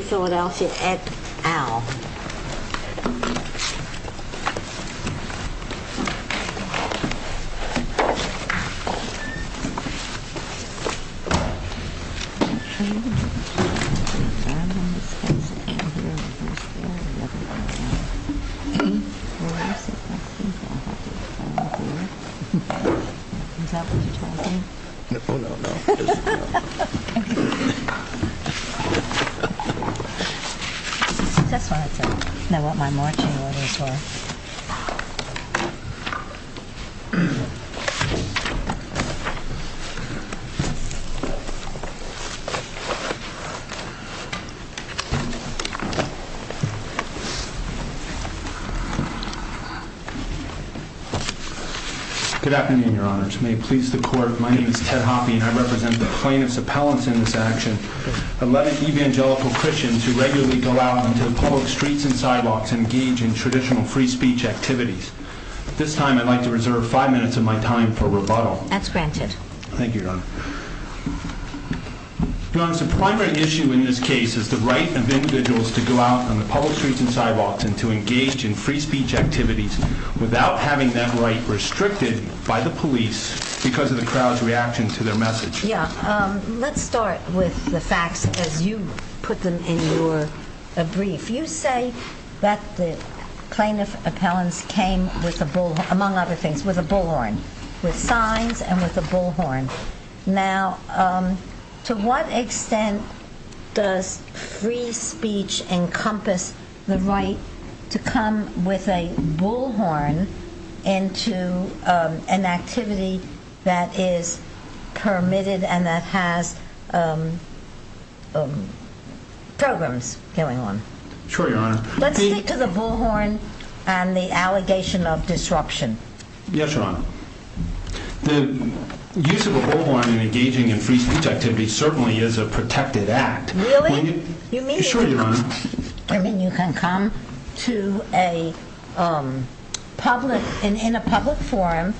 Philadelphia, Ed Al. Is that what you're talking about? Oh, no, no. It doesn't matter. That's what my marching orders were. Good afternoon, Your Honor. May it please the Court, my name is Ted Hoppe, and I represent the plaintiff's appellants in this action, eleven evangelical Christians who regularly go out into the public streets and sidewalks and engage in traditional free speech activities. At this time, I'd like to reserve five minutes of my time for rebuttal. That's granted. Thank you, Your Honor. Your Honor, the primary issue in this case is the right of individuals to go out on the public streets and sidewalks and to engage in free speech activities without having that right restricted by the police because of the crowd's reaction to their message. Yeah. Let's start with the facts as you put them in your brief. You say that the plaintiff appellants came, among other things, with a bullhorn, with signs and with a bullhorn. Now, to what extent does free speech encompass the right to come with a bullhorn into an activity that is permitted and that has programs going on? Sure, Your Honor. Let's stick to the bullhorn and the allegation of disruption. Yes, Your Honor. The use of a bullhorn in engaging in free speech activities certainly is a protected act. Really? Sure, Your Honor. You mean you can come to a public, in a public forum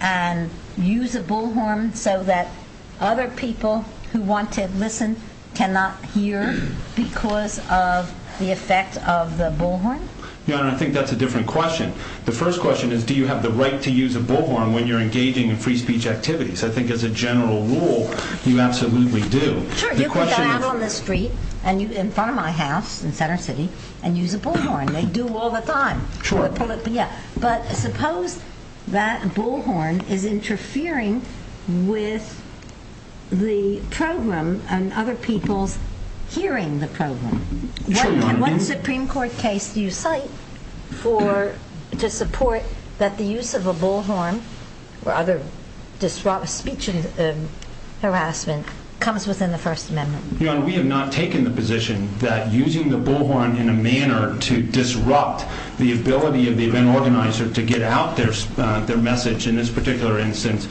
and use a bullhorn so that other people who want to listen cannot hear because of the effect of the bullhorn? Your Honor, I think that's a different question. The first question is do you have the right to use a bullhorn when you're engaging in free speech activities? I think as a general rule, you absolutely do. Sure. You could go out on the street in front of my house in Center City and use a bullhorn. They do all the time. Sure. But suppose that bullhorn is interfering with the program and other people's hearing the program. Sure, Your Honor. What Supreme Court case do you cite to support that the use of a bullhorn or other speech harassment comes within the First Amendment? Your Honor, we have not taken the position that using the bullhorn in a manner to disrupt the ability of the event organizer to get out their message in this particular instance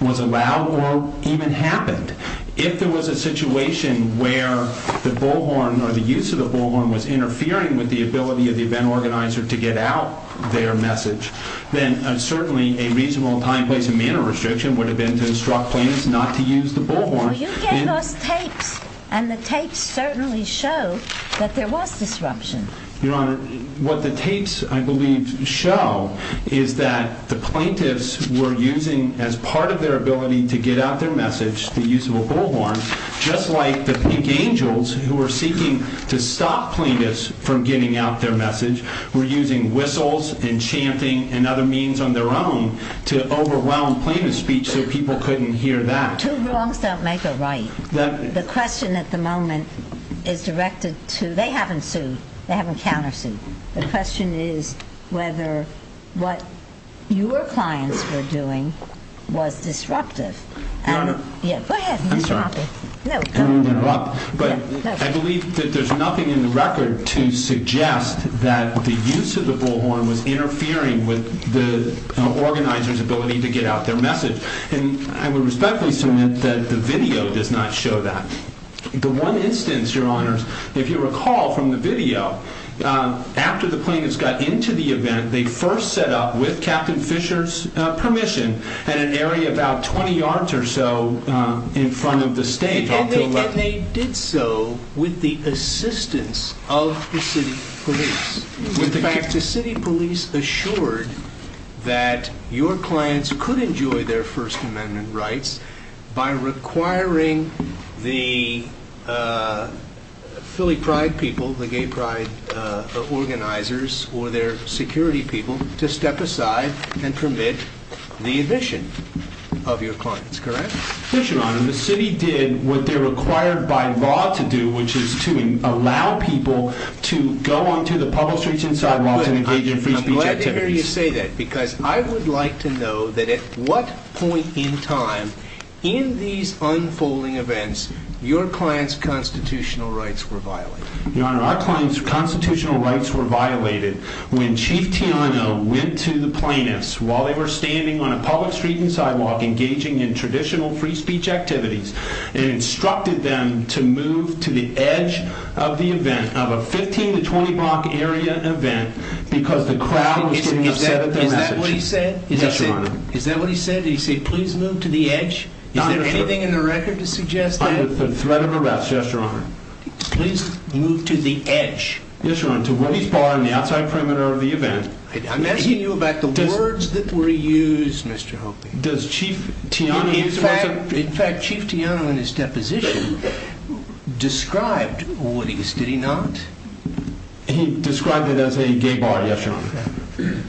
was allowed or even happened. If there was a situation where the bullhorn or the use of the bullhorn was interfering with the ability of the event organizer to get out their message, then certainly a reasonable time, place, and manner restriction would have been to instruct plaintiffs not to use the bullhorn. No, no. You gave us tapes, and the tapes certainly show that there was disruption. Your Honor, what the tapes, I believe, show is that the plaintiffs were using as part of their ability to get out their message, the use of a bullhorn, just like the pink angels who were seeking to stop plaintiffs from getting out their message were using whistles and chanting and other means on their own to overwhelm plaintiff's speech so people couldn't hear that. Two wrongs don't make a right. The question at the moment is directed to, they haven't sued. They haven't countersued. The question is whether what your clients were doing was disruptive. Your Honor. Yeah, go ahead, Mr. Hoppe. I'm sorry. No, go ahead. But I believe that there's nothing in the record to suggest that the use of the bullhorn was interfering with the organizer's ability to get out their message. And I would respectfully submit that the video does not show that. The one instance, Your Honors, if you recall from the video, after the plaintiffs got into the event, they first set up, with Captain Fisher's permission, at an area about 20 yards or so in front of the stage. And they did so with the assistance of the city police. In fact, the city police assured that your clients could enjoy their First Amendment rights by requiring the Philly Pride people, the gay pride organizers, or their security people, to step aside and permit the admission of your clients. Correct? Yes, Your Honor. And the city did what they're required by law to do, which is to allow people to go onto the public streets and sidewalks and engage in free speech activities. And I hear you say that, because I would like to know that at what point in time, in these unfolding events, your clients' constitutional rights were violated. Your Honor, our clients' constitutional rights were violated when Chief Tiano went to the plaintiffs while they were standing on a public street and sidewalk, engaging in traditional free speech activities, and instructed them to move to the edge of the event, of a 15 to 20 block area event, because the crowd was putting up 7th and Edge. Is that what he said? Yes, Your Honor. Is that what he said? Did he say, please move to the edge? Is there anything in the record to suggest that? Under threat of arrest, yes, Your Honor. Please move to the edge. Yes, Your Honor, to Woody's Bar on the outside perimeter of the event. I'm asking you about the words that were used, Mr. Hopi. Does Chief Tiano use them? In fact, Chief Tiano, in his deposition, described Woody's. Did he not? He described it as a gay bar, yes, Your Honor.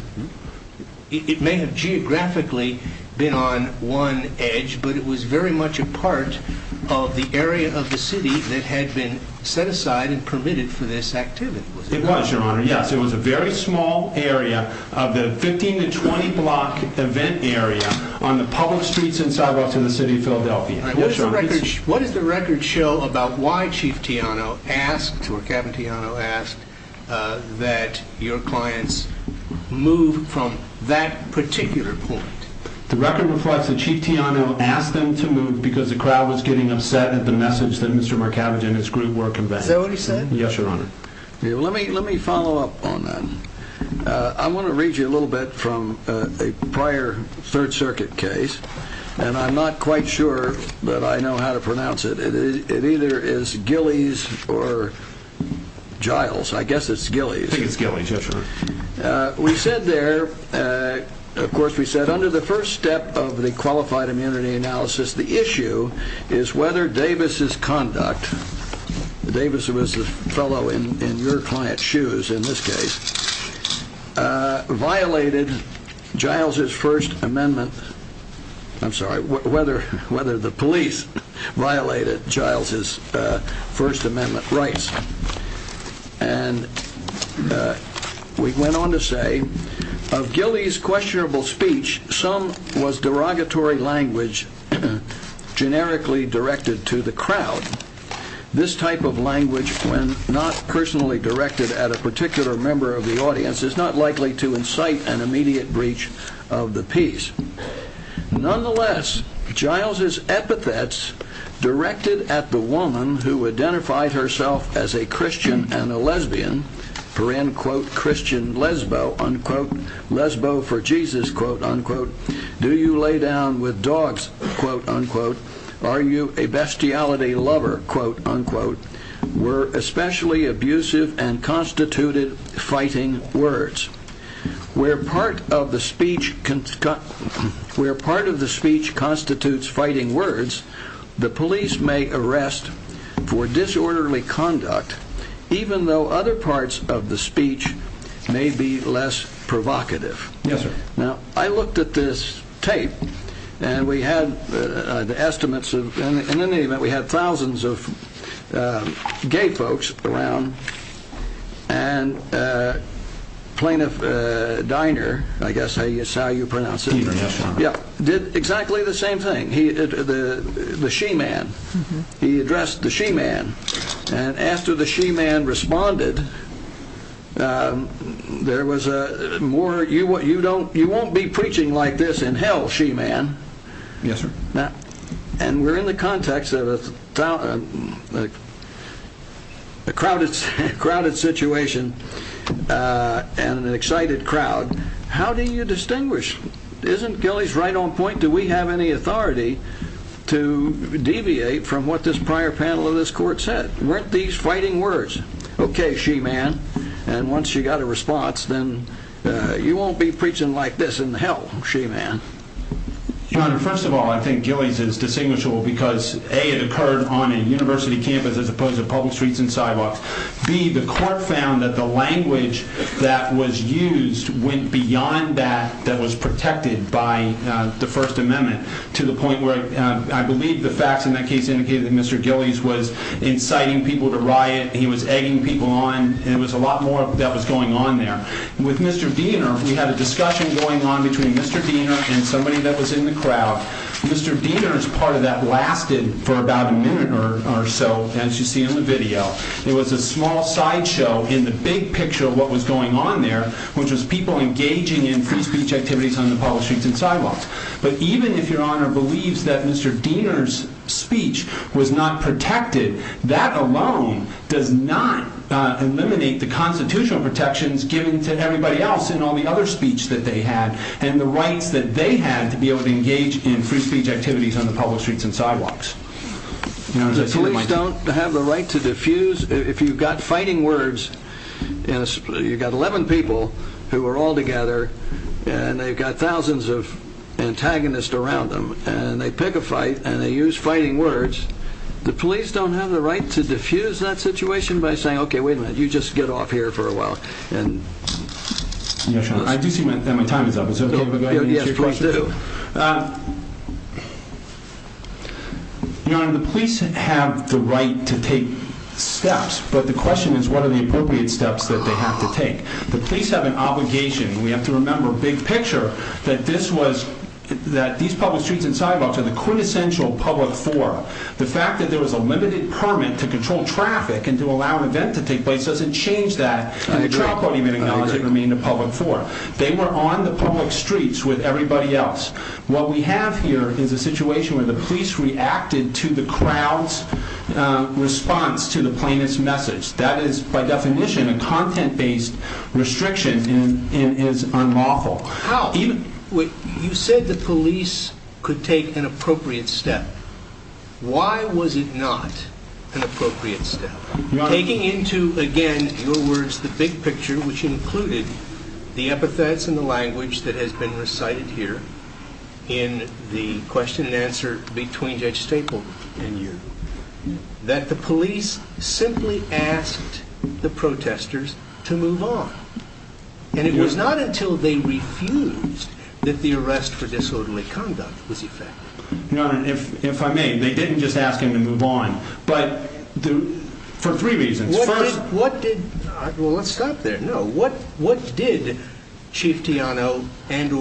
It may have geographically been on one edge, but it was very much a part of the area of the city that had been set aside and permitted for this activity. It was, Your Honor, yes. It was a very small area of the 15 to 20 block event area on the public streets and sidewalks in the city of Philadelphia. What does the record show about why Chief Tiano asked, or Captain Tiano asked, that your clients move from that particular point? The record reflects that Chief Tiano asked them to move because the crowd was getting upset at the message that Mr. Marcavage and his group were conveying. Is that what he said? Yes, Your Honor. Let me follow up on that. I want to read you a little bit from a prior Third Circuit case, and I'm not quite sure, but I know how to pronounce it. It either is Gillies or Giles. I guess it's Gillies. I think it's Gillies, yes, Your Honor. We said there, of course we said, under the first step of the qualified immunity analysis, the issue is whether Davis's conduct, Davis was the fellow in your client's shoes in this case, violated Giles's First Amendment, I'm sorry, whether the police violated Giles's First Amendment rights. And we went on to say, of Gillies' questionable speech, some was derogatory language generically directed to the crowd. This type of language, when not personally directed at a particular member of the audience, is not likely to incite an immediate breach of the peace. Nonetheless, Giles's epithets directed at the woman who identified herself as a Christian and a lesbian, for in, quote, Christian lesbo, unquote, lesbo for Jesus, quote, unquote, do you lay down with dogs, quote, unquote, are you a bestiality lover, quote, unquote, were especially abusive and constituted fighting words. Where part of the speech constitutes fighting words, the police may arrest for disorderly conduct, even though other parts of the speech may be less provocative. Yes, sir. Now, I looked at this tape, and we had the estimates of, in any event, we had thousands of gay folks around, and plaintiff Diner, I guess that's how you pronounce it. Diner, yes, sir. Yeah, did exactly the same thing. The she-man, he addressed the she-man, and after the she-man responded, there was a more You won't be preaching like this in hell, she-man. Yes, sir. And we're in the context of a crowded situation and an excited crowd. How do you distinguish? Isn't Giles right on point? Do we have any authority to deviate from what this prior panel of this court said? Weren't these fighting words? Okay, she-man, and once you got a response, then you won't be preaching like this in hell, she-man. Your Honor, first of all, I think Giles is distinguishable because A, it occurred on a university campus as opposed to public streets and sidewalks. B, the court found that the language that was used went beyond that that was protected by the First Amendment to the point where I believe the facts in that case indicated that Mr. Giles was inciting people to riot. He was egging people on, and there was a lot more that was going on there. With Mr. Diener, we had a discussion going on between Mr. Diener and somebody that was in the crowd. Mr. Diener's part of that lasted for about a minute or so, as you see in the video. It was a small sideshow in the big picture of what was going on there, which was people engaging in free speech activities on the public streets and sidewalks. But even if Your Honor believes that Mr. Diener's speech was not protected, that alone does not eliminate the constitutional protections given to everybody else in all the other speech that they had and the rights that they had to be able to engage in free speech activities on the public streets and sidewalks. The police don't have the right to diffuse. If you've got fighting words, you've got 11 people who are all together, and they've got thousands of antagonists around them, and they pick a fight and they use fighting words. The police don't have the right to diffuse that situation by saying, okay, wait a minute, you just get off here for a while. Your Honor, I do see that my time is up. Is it okay if I go ahead and answer your question? Yes, please do. Your Honor, the police have the right to take steps, but the question is what are the appropriate steps that they have to take. The police have an obligation, and we have to remember big picture, that these public streets remain a public forum. The fact that there was a limited permit to control traffic and to allow an event to take place doesn't change that, and the trial podium acknowledged it remained a public forum. They were on the public streets with everybody else. What we have here is a situation where the police reacted to the crowd's response to the plaintiff's message. That is, by definition, a content-based restriction and is unlawful. You said the police could take an appropriate step. Why was it not an appropriate step? Taking into, again, your words, the big picture, which included the epithets and the language that has been recited here in the question and answer between Judge Staple and you, that the police simply asked the protesters to move on. And it was not until they refused that the arrest for disorderly conduct was effected. Your Honor, if I may, they didn't just ask him to move on, but for three reasons. First, what did, well, let's stop there. No, what did Chief Teano and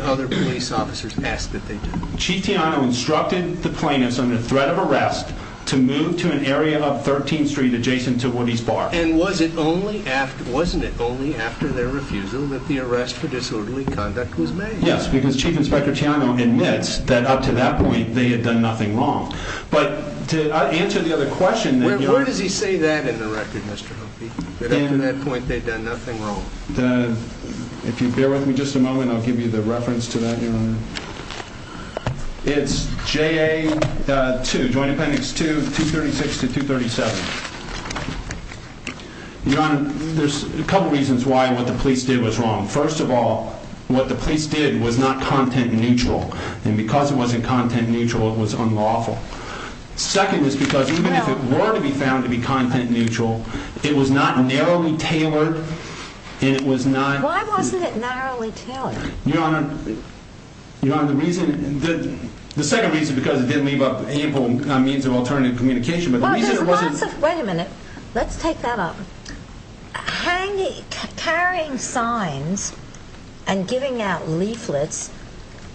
other police officers ask that they do? Chief Teano instructed the plaintiffs under threat of arrest to move to an area of 13th Street adjacent to Woody's Bar. And was it only after, wasn't it only after their refusal that the arrest for disorderly conduct was made? Yes, because Chief Inspector Teano admits that up to that point they had done nothing wrong. But to answer the other question. Where does he say that in the record, Mr. Humphrey, that up to that point they'd done nothing wrong? If you bear with me just a moment, I'll give you the reference to that, Your Honor. It's JA2, Joint Appendix 2, 236 to 237. Your Honor, there's a couple reasons why what the police did was wrong. First of all, what the police did was not content neutral. And because it wasn't content neutral, it was unlawful. Second is because even if it were to be found to be content neutral, it was not narrowly tailored, and it was not. Why wasn't it narrowly tailored? Your Honor, the second reason is because it didn't leave up ample means of alternative communication. But the reason it wasn't. Wait a minute. Let's take that up. Carrying signs and giving out leaflets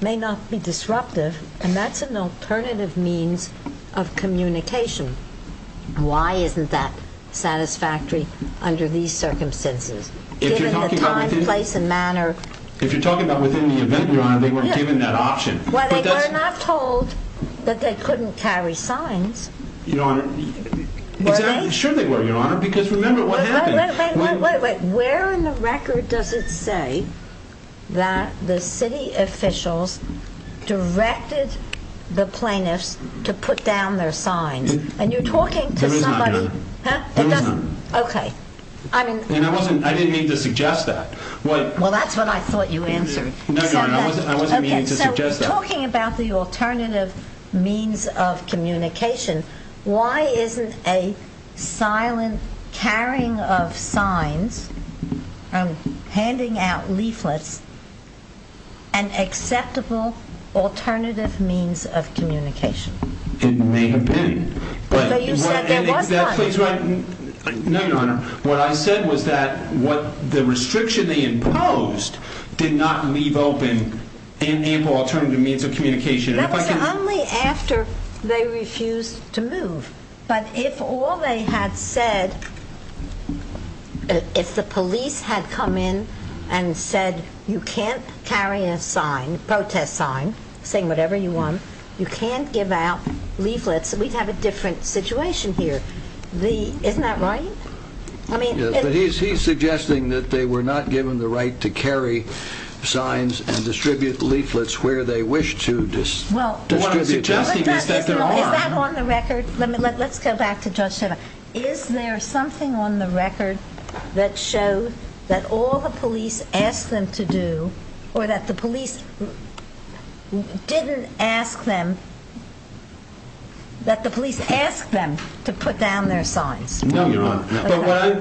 may not be disruptive, and that's an alternative means of communication. Why isn't that satisfactory under these circumstances? Given the time, place, and manner. If you're talking about within the event, Your Honor, they weren't given that option. Well, they were not told that they couldn't carry signs. Your Honor. Were they? Sure they were, Your Honor, because remember what happened. Wait, wait, wait. Where in the record does it say that the city officials directed the plaintiffs to put down their signs? And you're talking to somebody. There is none, Your Honor. Huh? There is none. Okay. And I didn't mean to suggest that. Well, that's what I thought you answered. No, Your Honor. I wasn't meaning to suggest that. Okay. So talking about the alternative means of communication, why isn't a silent carrying of signs and handing out leaflets an acceptable alternative means of communication? It may have been. But you said there was none. No, Your Honor. What I said was that the restriction they imposed did not leave open an ample alternative means of communication. That was only after they refused to move. But if all they had said, if the police had come in and said you can't carry a sign, a protest sign, saying whatever you want, you can't give out leaflets, we'd have a different situation here. Isn't that right? Yes. But he's suggesting that they were not given the right to carry signs and distribute leaflets where they wished to distribute them. Well, what I'm suggesting is that there are. Is that on the record? Let's go back to Judge Seva. Is there something on the record that showed that all the police asked them to do or that the police didn't ask them, that the police asked them to put down their signs? No, Your Honor.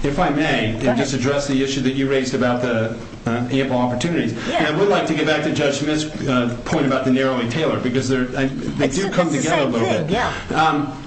If I may, and just address the issue that you raised about the ample opportunities. I would like to get back to Judge Smith's point about the narrowing tailor because they do come together a little bit. It's the same thing.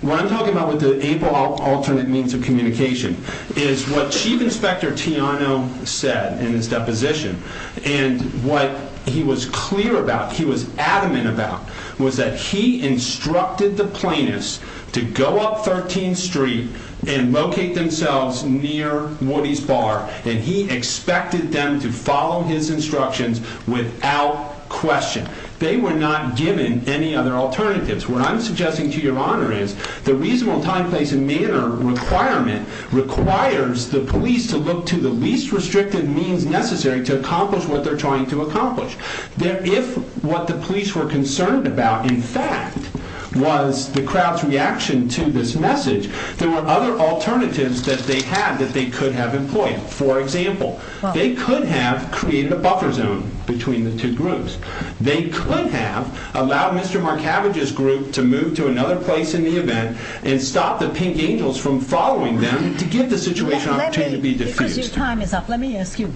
What I'm talking about with the ample alternate means of communication is what Chief Inspector Tiano said in his deposition. And what he was clear about, he was adamant about, was that he instructed the plaintiffs to go up 13th Street and locate themselves near Woody's Bar. And he expected them to follow his instructions without question. They were not given any other alternatives. What I'm suggesting to Your Honor is the reasonable time, place, and manner requirement requires the police to look to the least restrictive means necessary to accomplish what they're trying to accomplish. If what the police were concerned about, in fact, was the crowd's reaction to this message, there were other alternatives that they had that they could have employed. For example, they could have created a buffer zone between the two groups. They could have allowed Mr. Marcavage's group to move to another place in the event and stop the Pink Angels from following them to give the situation an opportunity to be diffused. Because your time is up, let me ask you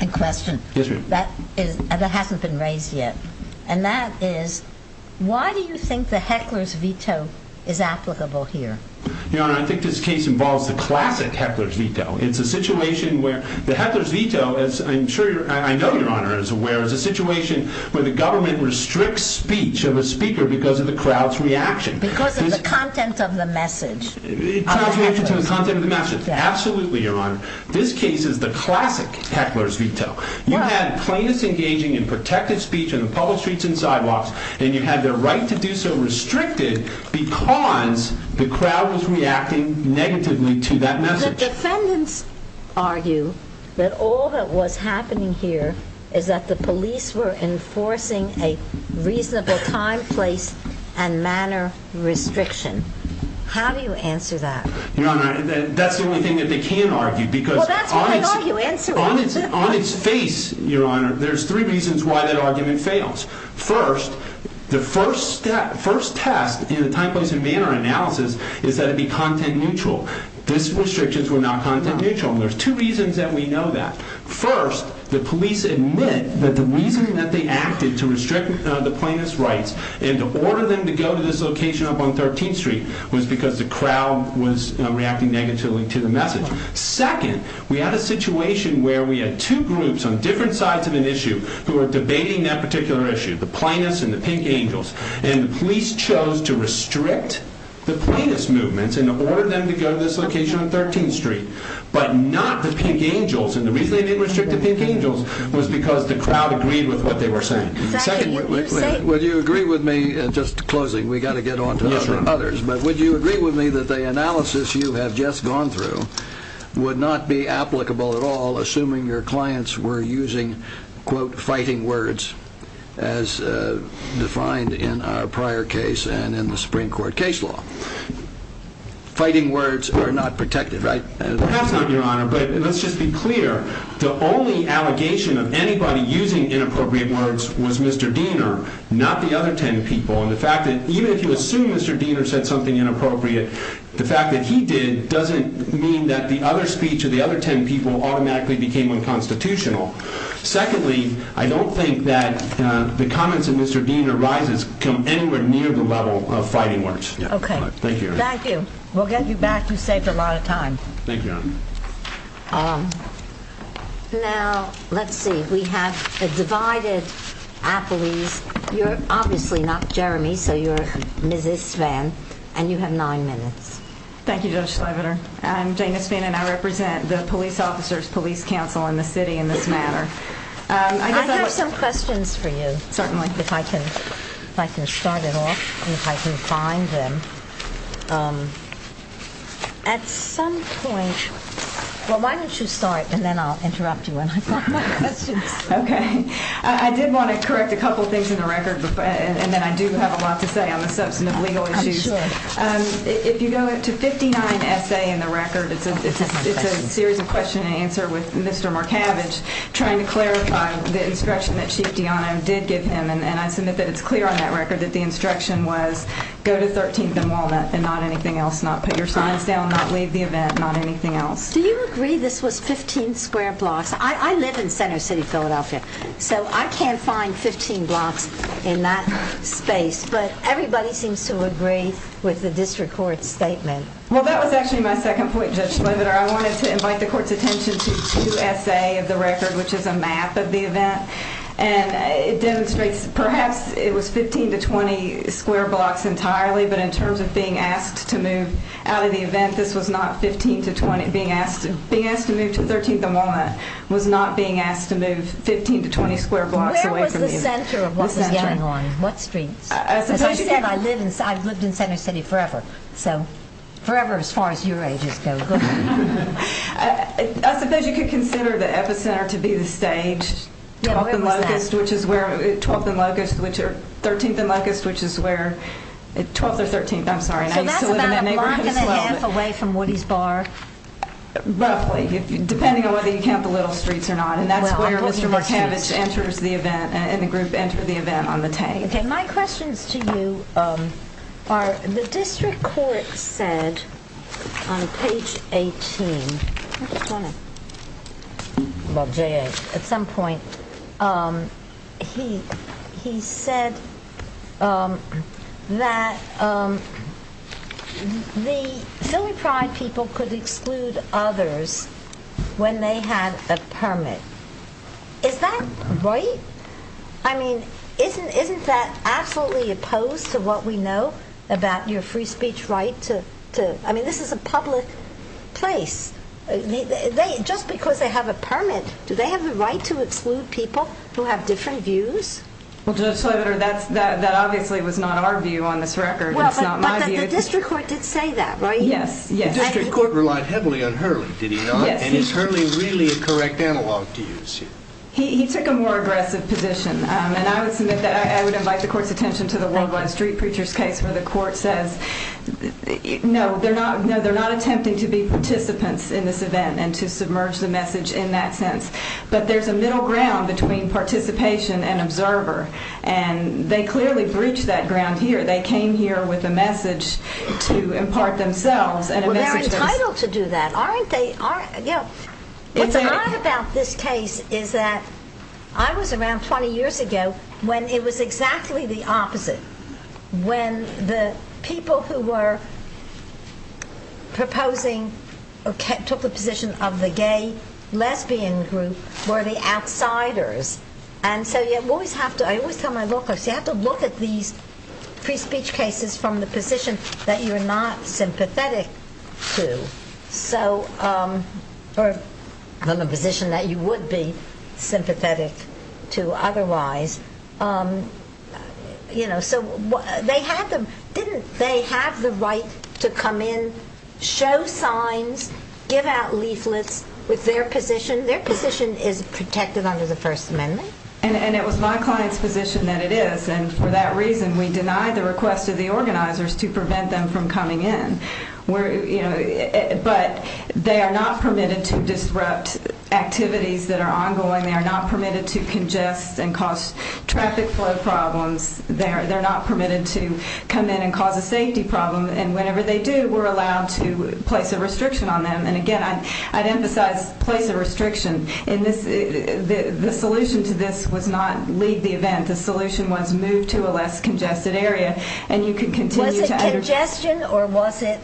a question that hasn't been raised yet. And that is, why do you think the heckler's veto is applicable here? Your Honor, I think this case involves the classic heckler's veto. It's a situation where the heckler's veto, as I know Your Honor is aware, is a situation where the government restricts speech of a speaker because of the crowd's reaction. Because of the content of the message. It translates into the content of the message. Absolutely, Your Honor. This case is the classic heckler's veto. You had plaintiffs engaging in protective speech on the public streets and sidewalks, and you had their right to do so restricted because the crowd was reacting negatively to that message. The defendants argue that all that was happening here is that the police were enforcing a reasonable time, place, and manner restriction. How do you answer that? Your Honor, that's the only thing that they can argue. Well, that's what they argue. Answer it. On its face, Your Honor, there's three reasons why that argument fails. First, the first test in the time, place, and manner analysis is that it be content-neutral. These restrictions were not content-neutral. There's two reasons that we know that. First, the police admit that the reason that they acted to restrict the plaintiffs' rights and to order them to go to this location up on 13th Street was because the crowd was reacting negatively to the message. Second, we had a situation where we had two groups on different sides of an issue who were debating that particular issue, the plaintiffs and the pink angels. And the police chose to restrict the plaintiffs' movements and order them to go to this location on 13th Street, but not the pink angels. And the reason they didn't restrict the pink angels was because the crowd agreed with what they were saying. Second, would you agree with me? Just closing, we've got to get on to others. But would you agree with me that the analysis you have just gone through would not be applicable at all assuming your clients were using, quote, fighting words as defined in our prior case and in the Supreme Court case law? Fighting words are not protected, right? Perhaps not, Your Honor, but let's just be clear. The only allegation of anybody using inappropriate words was Mr. Diener, not the other ten people. And the fact that even if you assume Mr. Diener said something inappropriate, the fact that he did doesn't mean that the other speech of the other ten people automatically became unconstitutional. Secondly, I don't think that the comments of Mr. Diener rises anywhere near the level of fighting words. Okay. Thank you. Thank you. We'll get you back. You saved a lot of time. Thank you, Your Honor. Now, let's see. We have a divided appellees. You're obviously not Jeremy, so you're Mrs. Svan, and you have nine minutes. Thank you, Judge Slaviter. I'm Dana Svan, and I represent the police officers, police council, and the city in this matter. I have some questions for you. Certainly. If I can start it off and if I can find them. At some point, well, why don't you start, and then I'll interrupt you when I find my questions. Okay. I did want to correct a couple things in the record, and then I do have a lot to say on the substantive legal issues. I'm sure. If you go to 59-SA in the record, it's a series of question and answer with Mr. Markavich trying to clarify the instruction that Chief Diano did give him, and I submit that it's clear on that record that the instruction was go to 13th and Walnut and not anything else, not put your signs down, not leave the event, not anything else. Do you agree this was 15 square blocks? I live in Center City, Philadelphia, so I can't find 15 blocks in that space, but everybody seems to agree with the district court's statement. Well, that was actually my second point, Judge Slaviter. I wanted to invite the court's attention to 2-SA of the record, which is a map of the event, and it demonstrates perhaps it was 15 to 20 square blocks entirely, but in terms of being asked to move out of the event, I think this was not 15 to 20, being asked to move to 13th and Walnut was not being asked to move 15 to 20 square blocks away from you. Where was the center of what was going on? What streets? As I said, I've lived in Center City forever, so forever as far as your ages go. I suppose you could consider the epicenter to be the stage, 12th and Locust, 13th and Locust, which is where, 12th or 13th, I'm sorry, and I used to live in that neighborhood as well. So that's about a block and a half away from Woody's Bar? Roughly, depending on whether you count the Little Streets or not, and that's where Mr. Markavich enters the event, and the group entered the event on the 10th. My questions to you are, the district court said on page 18, at some point, he said that the Philly Pride people could exclude others when they had a permit. Is that right? I mean, isn't that absolutely opposed to what we know about your free speech right? I mean, this is a public place. Just because they have a permit, do they have the right to exclude people who have different views? That obviously was not our view on this record, and it's not my view. But the district court did say that, right? Yes. The district court relied heavily on Hurley, did he not? Yes. And is Hurley really a correct analog to you? He took a more aggressive position, and I would invite the court's attention to the Worldwide Street Preachers case, where the court says, no, they're not attempting to be participants in this event, and to submerge the message in that sense. But there's a middle ground between participation and observer, and they clearly breached that ground here. They came here with a message to impart themselves. Well, they're entitled to do that, aren't they? What's odd about this case is that I was around 20 years ago when it was exactly the opposite. When the people who were proposing, took the position of the gay lesbian group, were the outsiders. And so you always have to, I always tell my law clerks, you have to look at these free speech cases from the position that you're not sympathetic to. Or from the position that you would be sympathetic to otherwise. So didn't they have the right to come in, show signs, give out leaflets with their position? Their position is protected under the First Amendment. And it was my client's position that it is, and for that reason we denied the request of the organizers to prevent them from coming in. But they are not permitted to disrupt activities that are ongoing. They are not permitted to congest and cause traffic flow problems. They're not permitted to come in and cause a safety problem. And whenever they do, we're allowed to place a restriction on them. And again, I'd emphasize place a restriction. The solution to this was not leave the event. The solution was move to a less congested area. Was it congestion or was it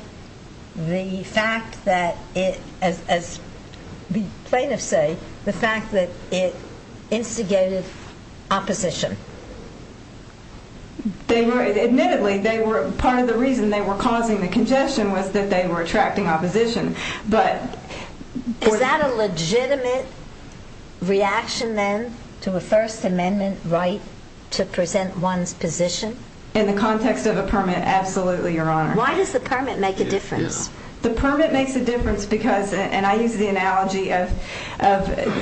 the fact that it, as plaintiffs say, the fact that it instigated opposition? Admittedly, part of the reason they were causing the congestion was that they were attracting opposition. Is that a legitimate reaction then to a First Amendment right to present one's position? In the context of a permit, absolutely, Your Honor. Why does the permit make a difference? The permit makes a difference because, and I use the analogy of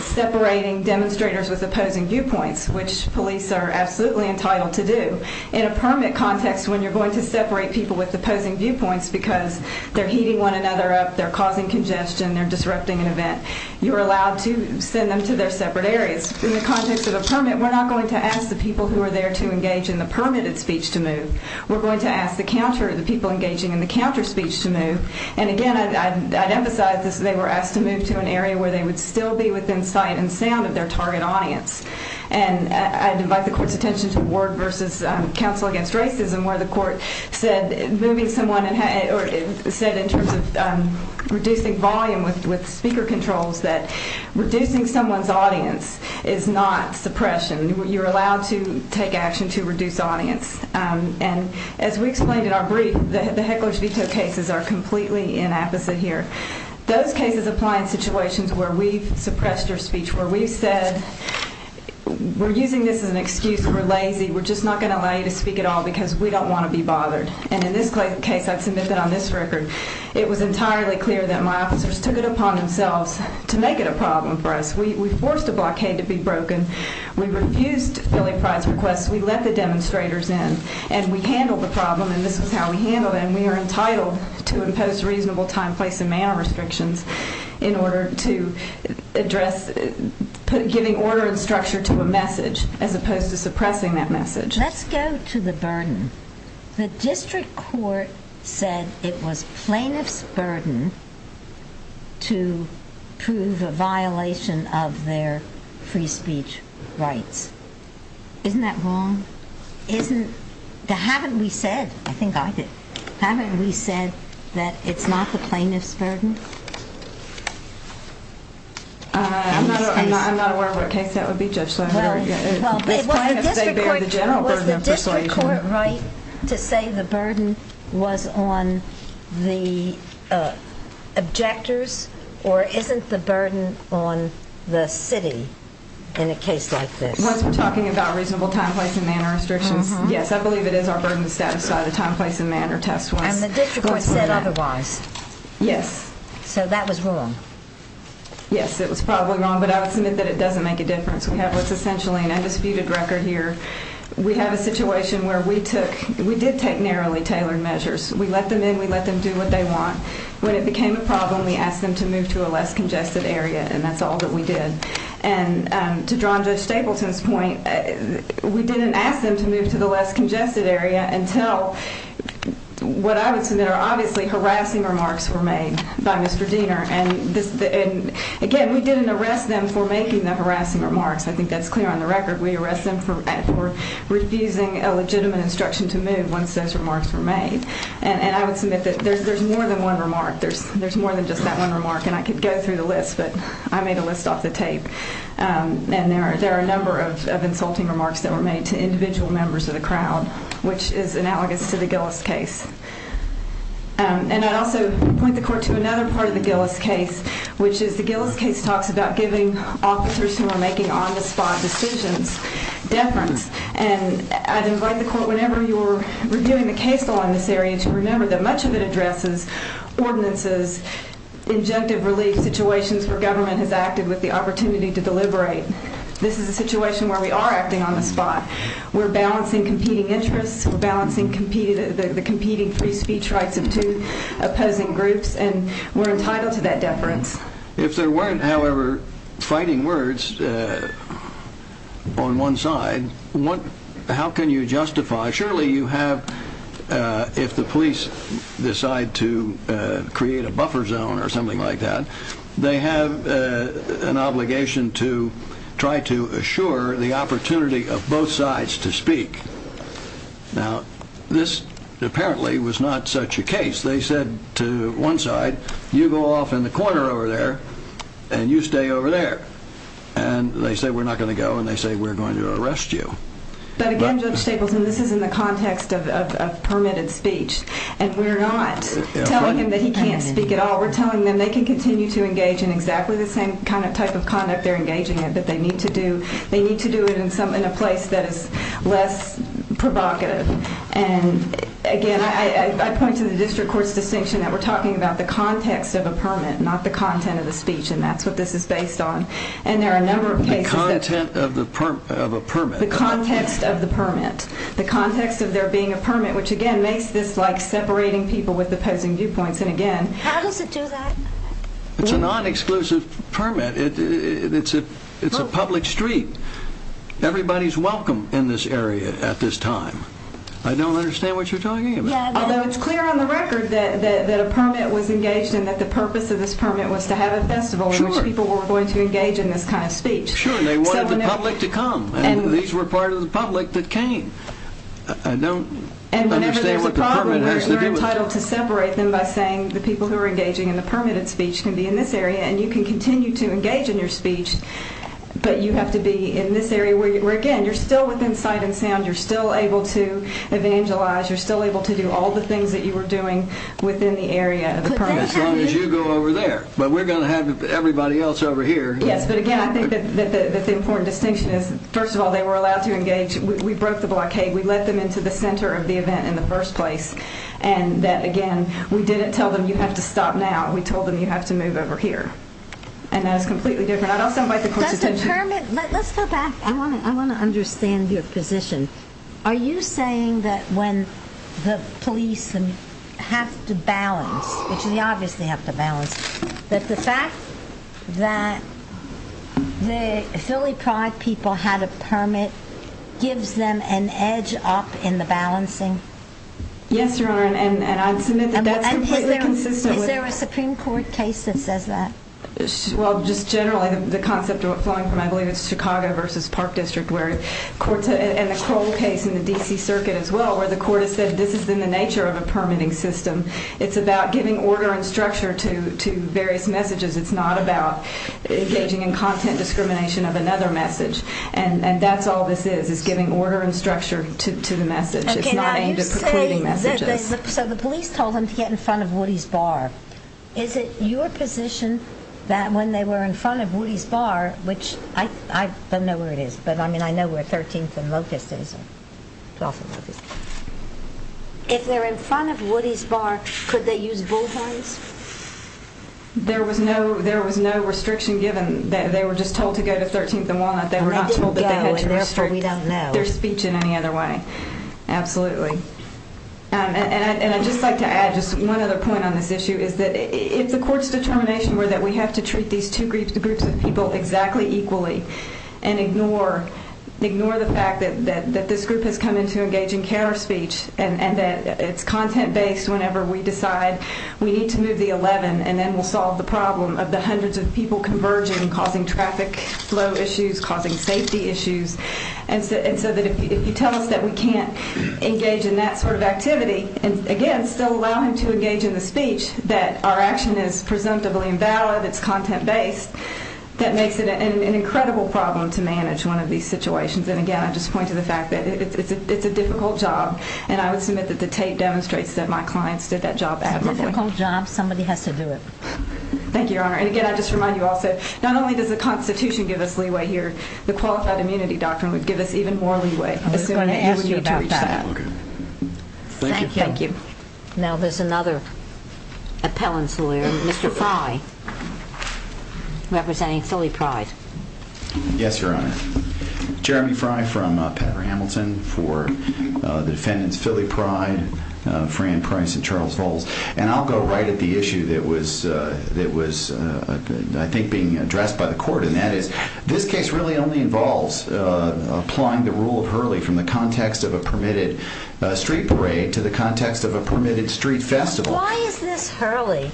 separating demonstrators with opposing viewpoints, which police are absolutely entitled to do. In a permit context, when you're going to separate people with opposing viewpoints because they're heating one another up, they're causing congestion, they're disrupting an event, you're allowed to send them to their separate areas. In the context of a permit, we're not going to ask the people who are there to engage in the permitted speech to move. We're going to ask the counter, the people engaging in the counter speech to move. And again, I'd emphasize this. They were asked to move to an area where they would still be within sight and sound of their target audience. And I'd invite the court's attention to Ward v. Council Against Racism where the court said in terms of reducing volume with speaker controls that reducing someone's audience is not suppression. You're allowed to take action to reduce audience. And as we explained in our brief, the hecklers veto cases are completely inapposite here. Those cases apply in situations where we've suppressed your speech, where we've said we're using this as an excuse. We're lazy. We're just not going to allow you to speak at all because we don't want to be bothered. And in this case, I've submitted on this record, it was entirely clear that my officers took it upon themselves to make it a problem for us. We forced a blockade to be broken. We refused billing price requests. We let the demonstrators in. And we handled the problem. And this is how we handled it. And we are entitled to impose reasonable time, place, and manner restrictions in order to address giving order and structure to a message as opposed to suppressing that message. Let's go to the burden. The district court said it was plaintiff's burden to prove a violation of their free speech rights. Isn't that wrong? Haven't we said, I think I did, haven't we said that it's not the plaintiff's burden? I'm not aware of what case that would be, Judge. Well, it was the district court right to say the burden was on the objectors or isn't the burden on the city in a case like this? Once we're talking about reasonable time, place, and manner restrictions, yes, I believe it is our burden to satisfy the time, place, and manner test. And the district court said otherwise. Yes. So that was wrong. Yes, it was probably wrong, but I would submit that it doesn't make a difference. We have what's essentially an undisputed record here. We have a situation where we did take narrowly tailored measures. We let them in. We let them do what they want. When it became a problem, we asked them to move to a less congested area, and that's all that we did. And to draw on Judge Stapleton's point, we didn't ask them to move to the less congested area until what I would submit are obviously harassing remarks were made by Mr. Diener. And, again, we didn't arrest them for making the harassing remarks. I think that's clear on the record. We arrested them for refusing a legitimate instruction to move once those remarks were made. And I would submit that there's more than one remark. There's more than just that one remark. And I could go through the list, but I made a list off the tape. And there are a number of insulting remarks that were made to individual members of the crowd, which is analogous to the Gillis case. And I'd also point the court to another part of the Gillis case, which is the Gillis case talks about giving officers who are making on-the-spot decisions deference. And I'd invite the court, whenever you're reviewing the case law in this area, to remember that much of it addresses ordinances, injunctive relief situations where government has acted with the opportunity to deliberate. This is a situation where we are acting on the spot. We're balancing competing interests. We're balancing the competing free speech rights of two opposing groups. And we're entitled to that deference. If there weren't, however, fighting words on one side, how can you justify? Surely you have, if the police decide to create a buffer zone or something like that, they have an obligation to try to assure the opportunity of both sides to speak. Now, this apparently was not such a case. They said to one side, you go off in the corner over there and you stay over there. And they say we're not going to go and they say we're going to arrest you. But again, Judge Stapleton, this is in the context of permitted speech. And we're not telling him that he can't speak at all. We're telling them they can continue to engage in exactly the same kind of type of conduct they're engaging in, but they need to do it in a place that is less provocative. And again, I point to the district court's distinction that we're talking about the context of a permit, not the content of the speech. And that's what this is based on. And there are a number of cases that... The content of a permit. The context of the permit. The context of there being a permit, which again makes this like separating people with opposing viewpoints. And again... How does it do that? It's a non-exclusive permit. It's a public street. Everybody's welcome in this area at this time. I don't understand what you're talking about. Although it's clear on the record that a permit was engaged and that the purpose of this permit was to have a festival in which people were going to engage in this kind of speech. Sure, and they wanted the public to come. And these were part of the public that came. I don't understand what the permit has to do with that. And whenever there's a problem, you're entitled to separate them by saying the people who are engaging in the permitted speech can be in this area. And you can continue to engage in your speech, but you have to be in this area where, again, you're still within sight and sound. You're still able to evangelize. You're still able to do all the things that you were doing within the area of the permit. As long as you go over there. But we're going to have everybody else over here. Yes, but again, I think that the important distinction is, first of all, they were allowed to engage. We broke the blockade. We let them into the center of the event in the first place. And that, again, we didn't tell them you have to stop now. We told them you have to move over here. And that is completely different. I'd also invite the court's attention. Let's go back. I want to understand your position. Are you saying that when the police have to balance, which they obviously have to balance, that the fact that the Philly Pride people had a permit gives them an edge up in the balancing? Yes, Your Honor, and I'd submit that that's completely consistent with the court's position. Is there a Supreme Court case that says that? Well, just generally, the concept of it flowing from, I believe it's Chicago versus Park District, and the Crowell case in the D.C. Circuit as well, where the court has said this is in the nature of a permitting system. It's about giving order and structure to various messages. It's not about engaging in content discrimination of another message. And that's all this is, is giving order and structure to the message. It's not aimed at precluding messages. So the police told them to get in front of Woody's Bar. Is it your position that when they were in front of Woody's Bar, which I don't know where it is, but I mean I know where 13th and Locust is. If they're in front of Woody's Bar, could they use bull horns? There was no restriction given. They were just told to go to 13th and Walnut. They were not told that they had to restrict their speech in any other way. Absolutely. And I'd just like to add just one other point on this issue. It's the court's determination that we have to treat these two groups of people exactly equally and ignore the fact that this group has come into engaging counter speech and that it's content-based whenever we decide we need to move the 11 and then we'll solve the problem of the hundreds of people converging, causing traffic flow issues, causing safety issues. And so that if you tell us that we can't engage in that sort of activity and, again, still allow him to engage in the speech, that our action is presumptively invalid, it's content-based, that makes it an incredible problem to manage one of these situations. And, again, I just point to the fact that it's a difficult job. And I would submit that the tape demonstrates that my clients did that job admirably. It's a difficult job. Somebody has to do it. Thank you, Your Honor. And, again, I just remind you also not only does the Constitution give us leeway here, the Qualified Immunity Doctrine would give us even more leeway. I was going to ask you about that. Okay. Thank you. Thank you. Now there's another appellant's lawyer, Mr. Fry, representing Philly Pride. Yes, Your Honor. Jeremy Fry from Patter Hamilton for the defendants Philly Pride, Fran Price, and Charles Volz. And I'll go right at the issue that was, I think, being addressed by the court, and that is this case really only involves applying the rule of Hurley from the context of a permitted street parade to the context of a permitted street festival. Why is this Hurley?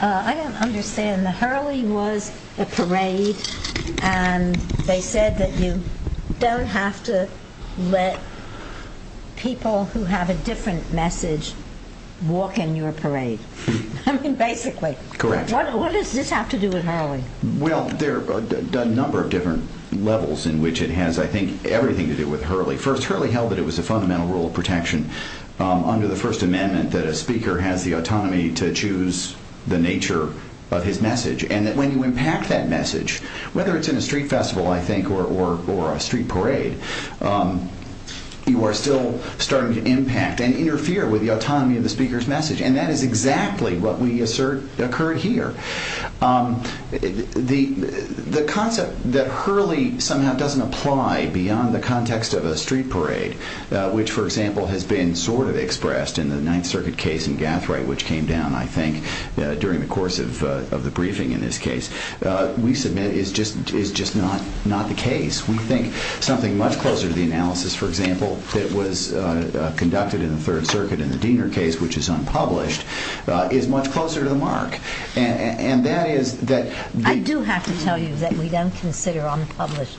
I don't understand. The Hurley was a parade, and they said that you don't have to let people who have a different message walk in your parade. I mean, basically. Correct. What does this have to do with Hurley? Well, there are a number of different levels in which it has, I think, everything to do with Hurley. First, Hurley held that it was a fundamental rule of protection under the First Amendment that a speaker has the autonomy to choose the nature of his message, and that when you impact that message, whether it's in a street festival, I think, or a street parade, you are still starting to impact and interfere with the autonomy of the speaker's message, and that is exactly what we assert occurred here. The concept that Hurley somehow doesn't apply beyond the context of a street parade, which, for example, has been sort of expressed in the Ninth Circuit case in Gathright, which came down, I think, during the course of the briefing in this case, we submit is just not the case. We think something much closer to the analysis, for example, that was conducted in the Third Circuit in the Diener case, which is unpublished, is much closer to the mark. I do have to tell you that we don't consider unpublished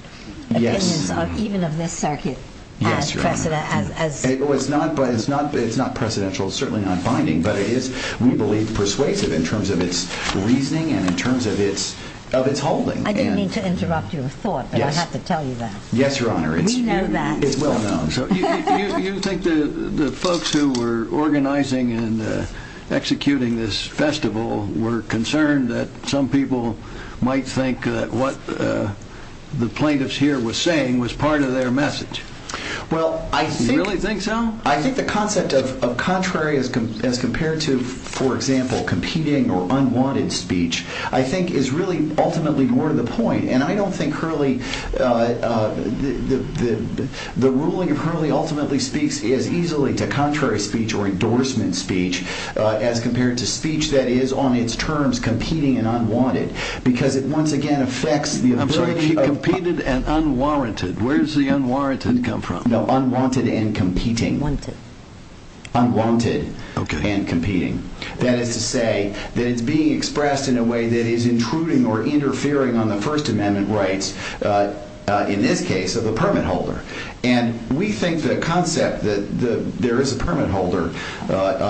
opinions, even of this circuit, as precedent. It's not precedential, it's certainly not binding, but it is, we believe, persuasive in terms of its reasoning and in terms of its holding. I didn't mean to interrupt your thought, but I have to tell you that. Yes, Your Honor. We know that. It's well known. You think the folks who were organizing and executing this festival were concerned that some people might think that what the plaintiffs here were saying was part of their message. Well, I think... You really think so? I think the concept of contrary as compared to, for example, competing or unwanted speech, I think is really ultimately more to the point, and I don't think Hurley, the ruling of Hurley ultimately speaks as easily to contrary speech or endorsement speech as compared to speech that is on its terms competing and unwanted, because it once again affects the... Competed and unwarranted. Where does the unwarranted come from? No, unwanted and competing. Wanted. Unwanted and competing. That is to say that it's being expressed in a way that is intruding or interfering on the First Amendment rights, in this case, of the permit holder. And we think the concept that there is a permit holder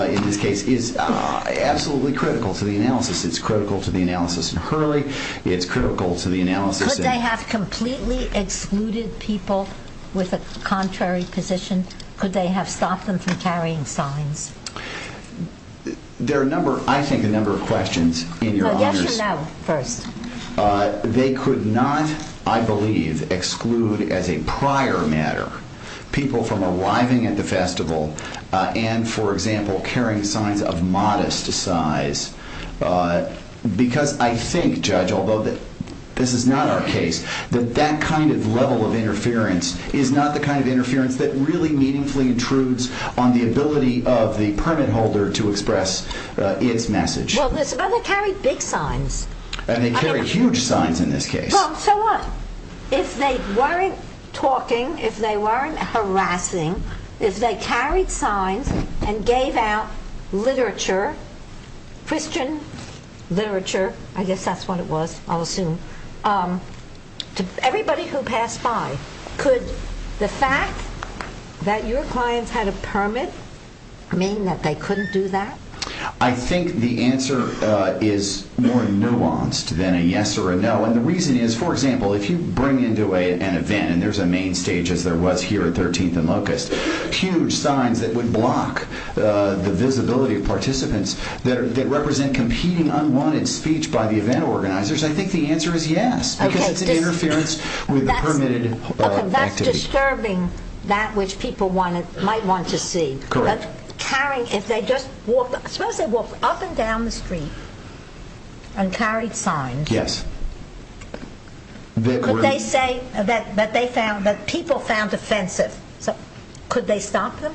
in this case is absolutely critical to the analysis. It's critical to the analysis in Hurley. It's critical to the analysis in... Could they have completely excluded people with a contrary position? Could they have stopped them from carrying signs? There are a number, I think, a number of questions in your honors. Well, yes or no first. They could not, I believe, exclude as a prior matter people from arriving at the festival and, for example, carrying signs of modest size, because I think, Judge, although this is not our case, that that kind of level of interference is not the kind of interference that really meaningfully intrudes on the ability of the permit holder to express its message. Well, they carried big signs. And they carried huge signs in this case. Well, so what? If they weren't talking, if they weren't harassing, if they carried signs and gave out literature, Christian literature, I guess that's what it was, I'll assume, to everybody who passed by, could the fact that your clients had a permit mean that they couldn't do that? I think the answer is more nuanced than a yes or a no. And the reason is, for example, if you bring into an event, and there's a main stage, as there was here at 13th and Locust, huge signs that would block the visibility of participants that represent competing unwanted speech by the event organizers, I think the answer is yes, because it's an interference with the permitted activity. Okay, that's disturbing that which people might want to see. Correct. But carrying, if they just walked, suppose they walked up and down the street and carried signs. Yes. But they say that people found offensive. So could they stop them?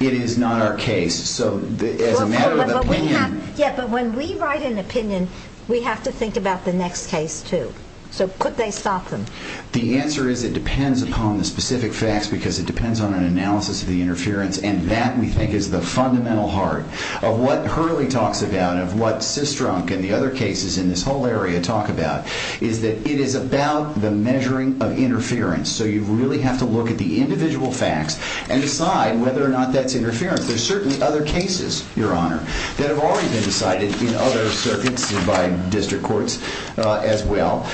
It is not our case. So as a matter of opinion. Yeah, but when we write an opinion, we have to think about the next case too. So could they stop them? The answer is it depends upon the specific facts, because it depends on an analysis of the interference, and that, we think, is the fundamental heart of what Hurley talks about, and of what Sistrunk and the other cases in this whole area talk about, is that it is about the measuring of interference. So you really have to look at the individual facts and decide whether or not that's interference. There are certainly other cases, Your Honor, that have already been decided in other circuits and by district courts as well,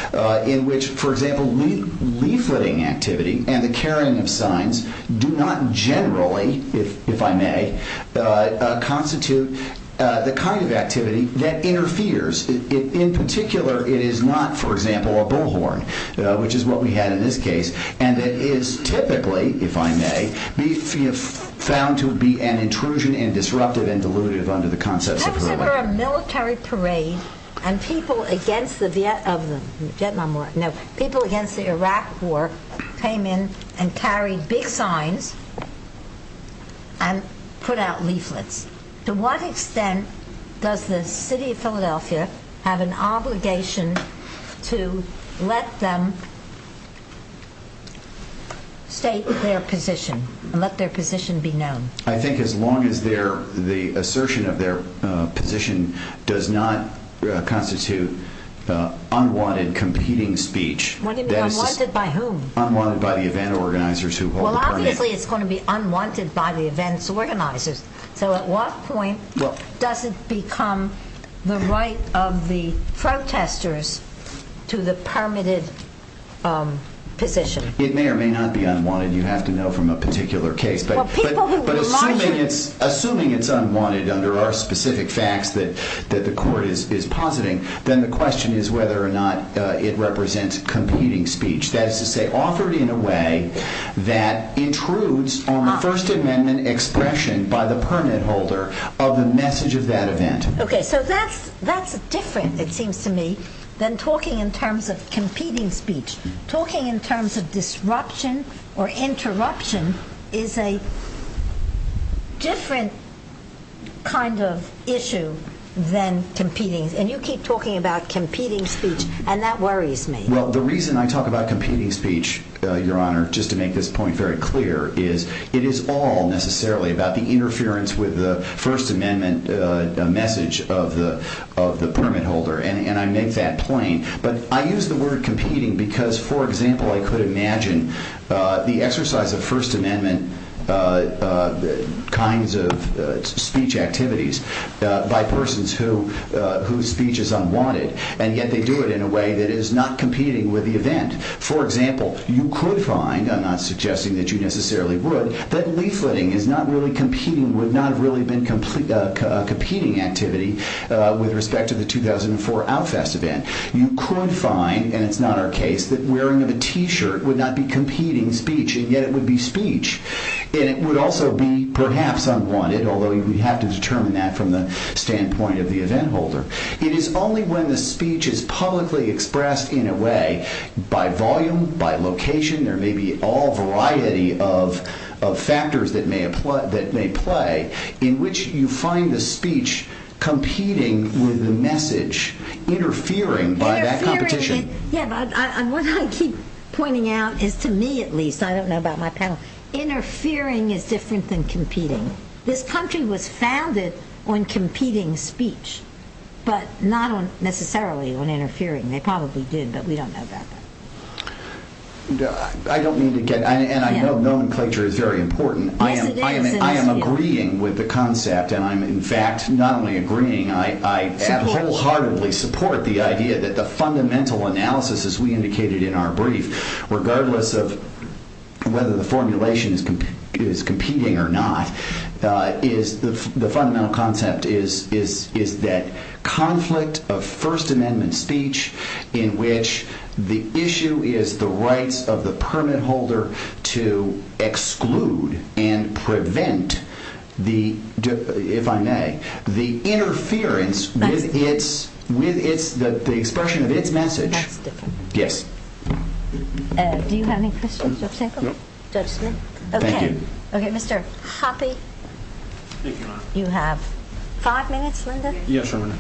in which, for example, leafleting activity and the carrying of signs do not generally, if I may, constitute the kind of activity that interferes. In particular, it is not, for example, a bullhorn, which is what we had in this case, and that is typically, if I may, found to be an intrusion and disruptive and dilutive under the concepts of Hurley. Consider a military parade, and people against the Vietnam War, people against the Iraq War came in and carried big signs and put out leaflets. To what extent does the city of Philadelphia have an obligation to let them state their position and let their position be known? I think as long as the assertion of their position does not constitute unwanted competing speech. Unwanted by whom? Unwanted by the event organizers who hold the permit. Well, obviously it's going to be unwanted by the event's organizers. So at what point does it become the right of the protesters to the permitted position? It may or may not be unwanted. You have to know from a particular case. Assuming it's unwanted under our specific facts that the court is positing, then the question is whether or not it represents competing speech. That is to say, offered in a way that intrudes on the First Amendment expression by the permit holder of the message of that event. Okay, so that's different, it seems to me, than talking in terms of competing speech. Talking in terms of disruption or interruption is a different kind of issue than competing. And you keep talking about competing speech, and that worries me. Well, the reason I talk about competing speech, Your Honor, just to make this point very clear, is it is all necessarily about the interference with the First Amendment message of the permit holder, and I make that plain. But I use the word competing because, for example, I could imagine the exercise of First Amendment kinds of speech activities by persons whose speech is unwanted, and yet they do it in a way that is not competing with the event. For example, you could find, I'm not suggesting that you necessarily would, that leafleting is not really competing, would not have really been a competing activity with respect to the 2004 Outfest event. You could find, and it's not our case, that wearing of a t-shirt would not be competing speech, and yet it would be speech. And it would also be perhaps unwanted, although you would have to determine that from the standpoint of the event holder. It is only when the speech is publicly expressed in a way, by volume, by location, there may be all variety of factors that may play, in which you find the speech competing with the message, interfering by that competition. Interfering, yeah, but what I keep pointing out is, to me at least, I don't know about my panel, interfering is different than competing. This country was founded on competing speech, but not necessarily on interfering. They probably did, but we don't know about that. I don't mean to get, and I know nomenclature is very important. Yes, it is. I am agreeing with the concept, and I am, in fact, not only agreeing, I wholeheartedly support the idea that the fundamental analysis, as we indicated in our brief, regardless of whether the formulation is competing or not, the fundamental concept is that conflict of First Amendment speech, in which the issue is the rights of the permit holder to exclude and prevent the, if I may, the interference with the expression of its message. That's different. Yes. Do you have any questions, Judge Sinclair? No. Judge Smith? Thank you. Okay, Mr. Hoppe? Thank you, Your Honor. You have five minutes, Linda? Yes, Your Honor.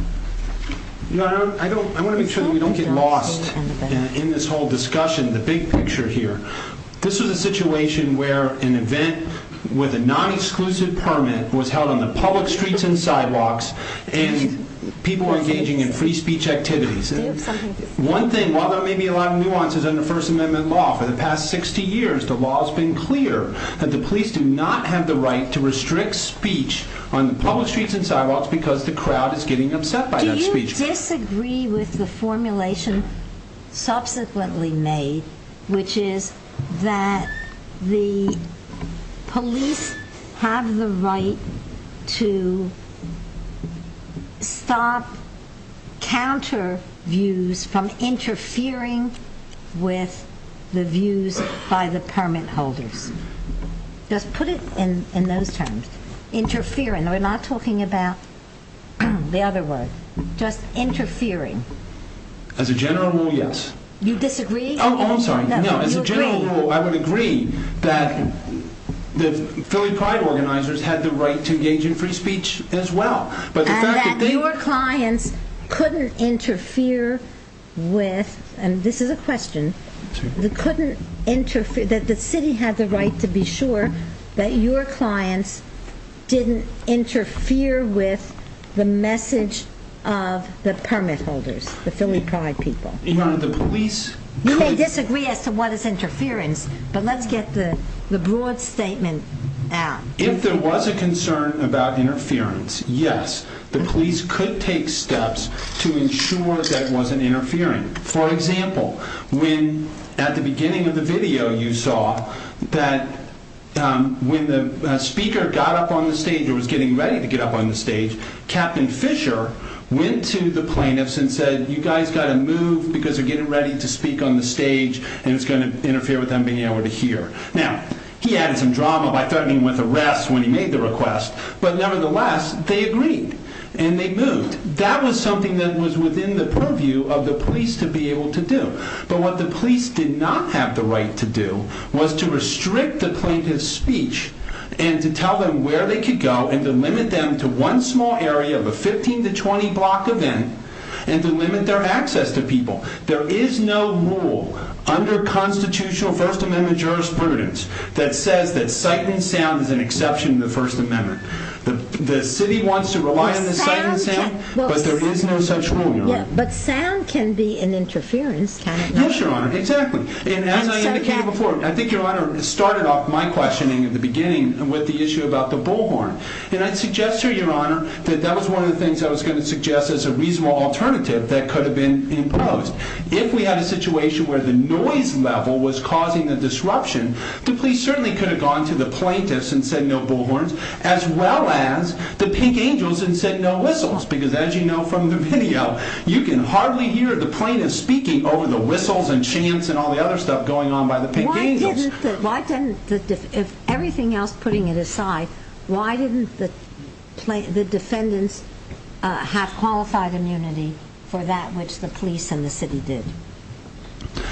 Your Honor, I want to make sure that we don't get lost in this whole discussion, the big picture here. This is a situation where an event with a non-exclusive permit was held on the public streets and sidewalks, and people were engaging in free speech activities. One thing, while there may be a lot of nuances under First Amendment law, for the past 60 years, the law has been clear that the police do not have the right to restrict speech on the public streets and sidewalks because the crowd is getting upset by that speech. Do you disagree with the formulation subsequently made, which is that the police have the right to stop counter views from interfering with the views by the permit holders? Just put it in those terms. Interfering. We're not talking about the other word. Just interfering. As a general rule, yes. You disagree? Oh, I'm sorry. No, as a general rule, I would agree that the Philly Pride organizers had the right to engage in free speech as well. And that your clients couldn't interfere with, and this is a question, that the city had the right to be sure that your clients didn't interfere with the message of the permit holders, the Philly Pride people. You may disagree as to what is interference, but let's get the broad statement out. If there was a concern about interference, yes, the police could take steps to ensure that it wasn't interfering. For example, when at the beginning of the video you saw that when the speaker got up on the stage or was getting ready to get up on the stage, Captain Fisher went to the plaintiffs and said, you guys got to move because they're getting ready to speak on the stage and it's going to interfere with them being able to hear. Now, he added some drama by threatening with arrest when he made the request, but nevertheless, they agreed and they moved. That was something that was within the purview of the police to be able to do. But what the police did not have the right to do was to restrict the plaintiff's speech and to tell them where they could go and to limit them to one small area of a 15 to 20 block event and to limit their access to people. There is no rule under constitutional First Amendment jurisprudence that says that sight and sound is an exception to the First Amendment. The city wants to rely on the sight and sound, but there is no such rule, Your Honor. But sound can be an interference, can it not? Yes, Your Honor, exactly. And as I indicated before, I think Your Honor started off my questioning at the beginning with the issue about the bullhorn. And I'd suggest to you, Your Honor, that that was one of the things I was going to suggest as a reasonable alternative that could have been imposed. If we had a situation where the noise level was causing the disruption, the police certainly could have gone to the plaintiffs and said no bullhorns as well as the Pink Angels and said no whistles because as you know from the video, you can hardly hear the plaintiffs speaking over the whistles and chants and all the other stuff going on by the Pink Angels. If everything else, putting it aside, why didn't the defendants have qualified immunity for that which the police and the city did?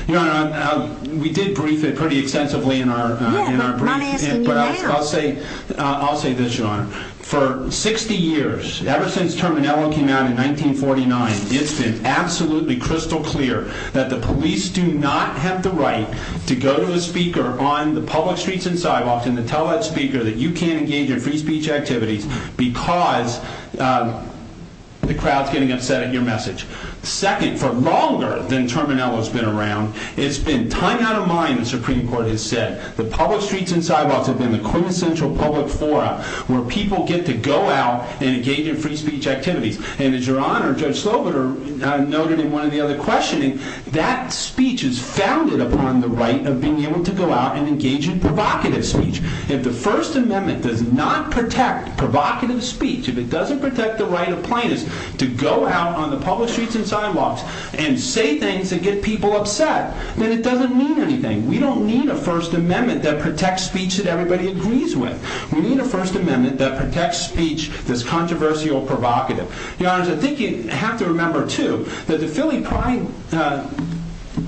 Your Honor, we did brief it pretty extensively in our brief. Yeah, but I'm asking you now. I'll say this, Your Honor. For 60 years, ever since Terminello came out in 1949, it's been absolutely crystal clear that the police do not have the right to go to a speaker on the public streets and sidewalks and to tell that speaker that you can't engage in free speech activities because the crowd's getting upset at your message. Second, for longer than Terminello's been around, it's been time out of mind, the Supreme Court has said. The public streets and sidewalks have been the quintessential public forum where people get to go out and engage in free speech activities. And as Your Honor, Judge Sloboda noted in one of the other questioning, that speech is founded upon the right of being able to go out and engage in provocative speech. If the First Amendment does not protect provocative speech, if it doesn't protect the right of plaintiffs to go out on the public streets and sidewalks and say things that get people upset, then it doesn't mean anything. We don't need a First Amendment that protects speech that everybody agrees with. We need a First Amendment that protects speech that's controversial or provocative. Your Honors, I think you have to remember, too, that the Philly Pride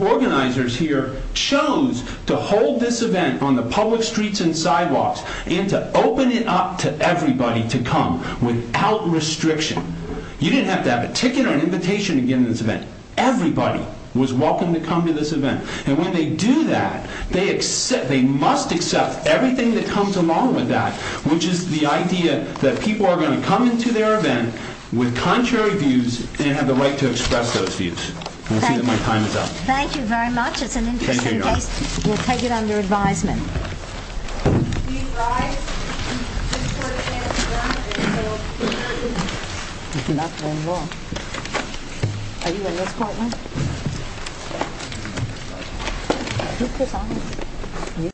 organizers here chose to hold this event on the public streets and sidewalks and to open it up to everybody to come without restriction. You didn't have to have a ticket or an invitation to get into this event. Everybody was welcome to come to this event. And when they do that, they must accept everything that comes along with that, which is the idea that people are going to come into their event with contrary views and have the right to express those views. We'll see when my time is up. Thank you very much. It's an interesting case. We'll take it under advisement.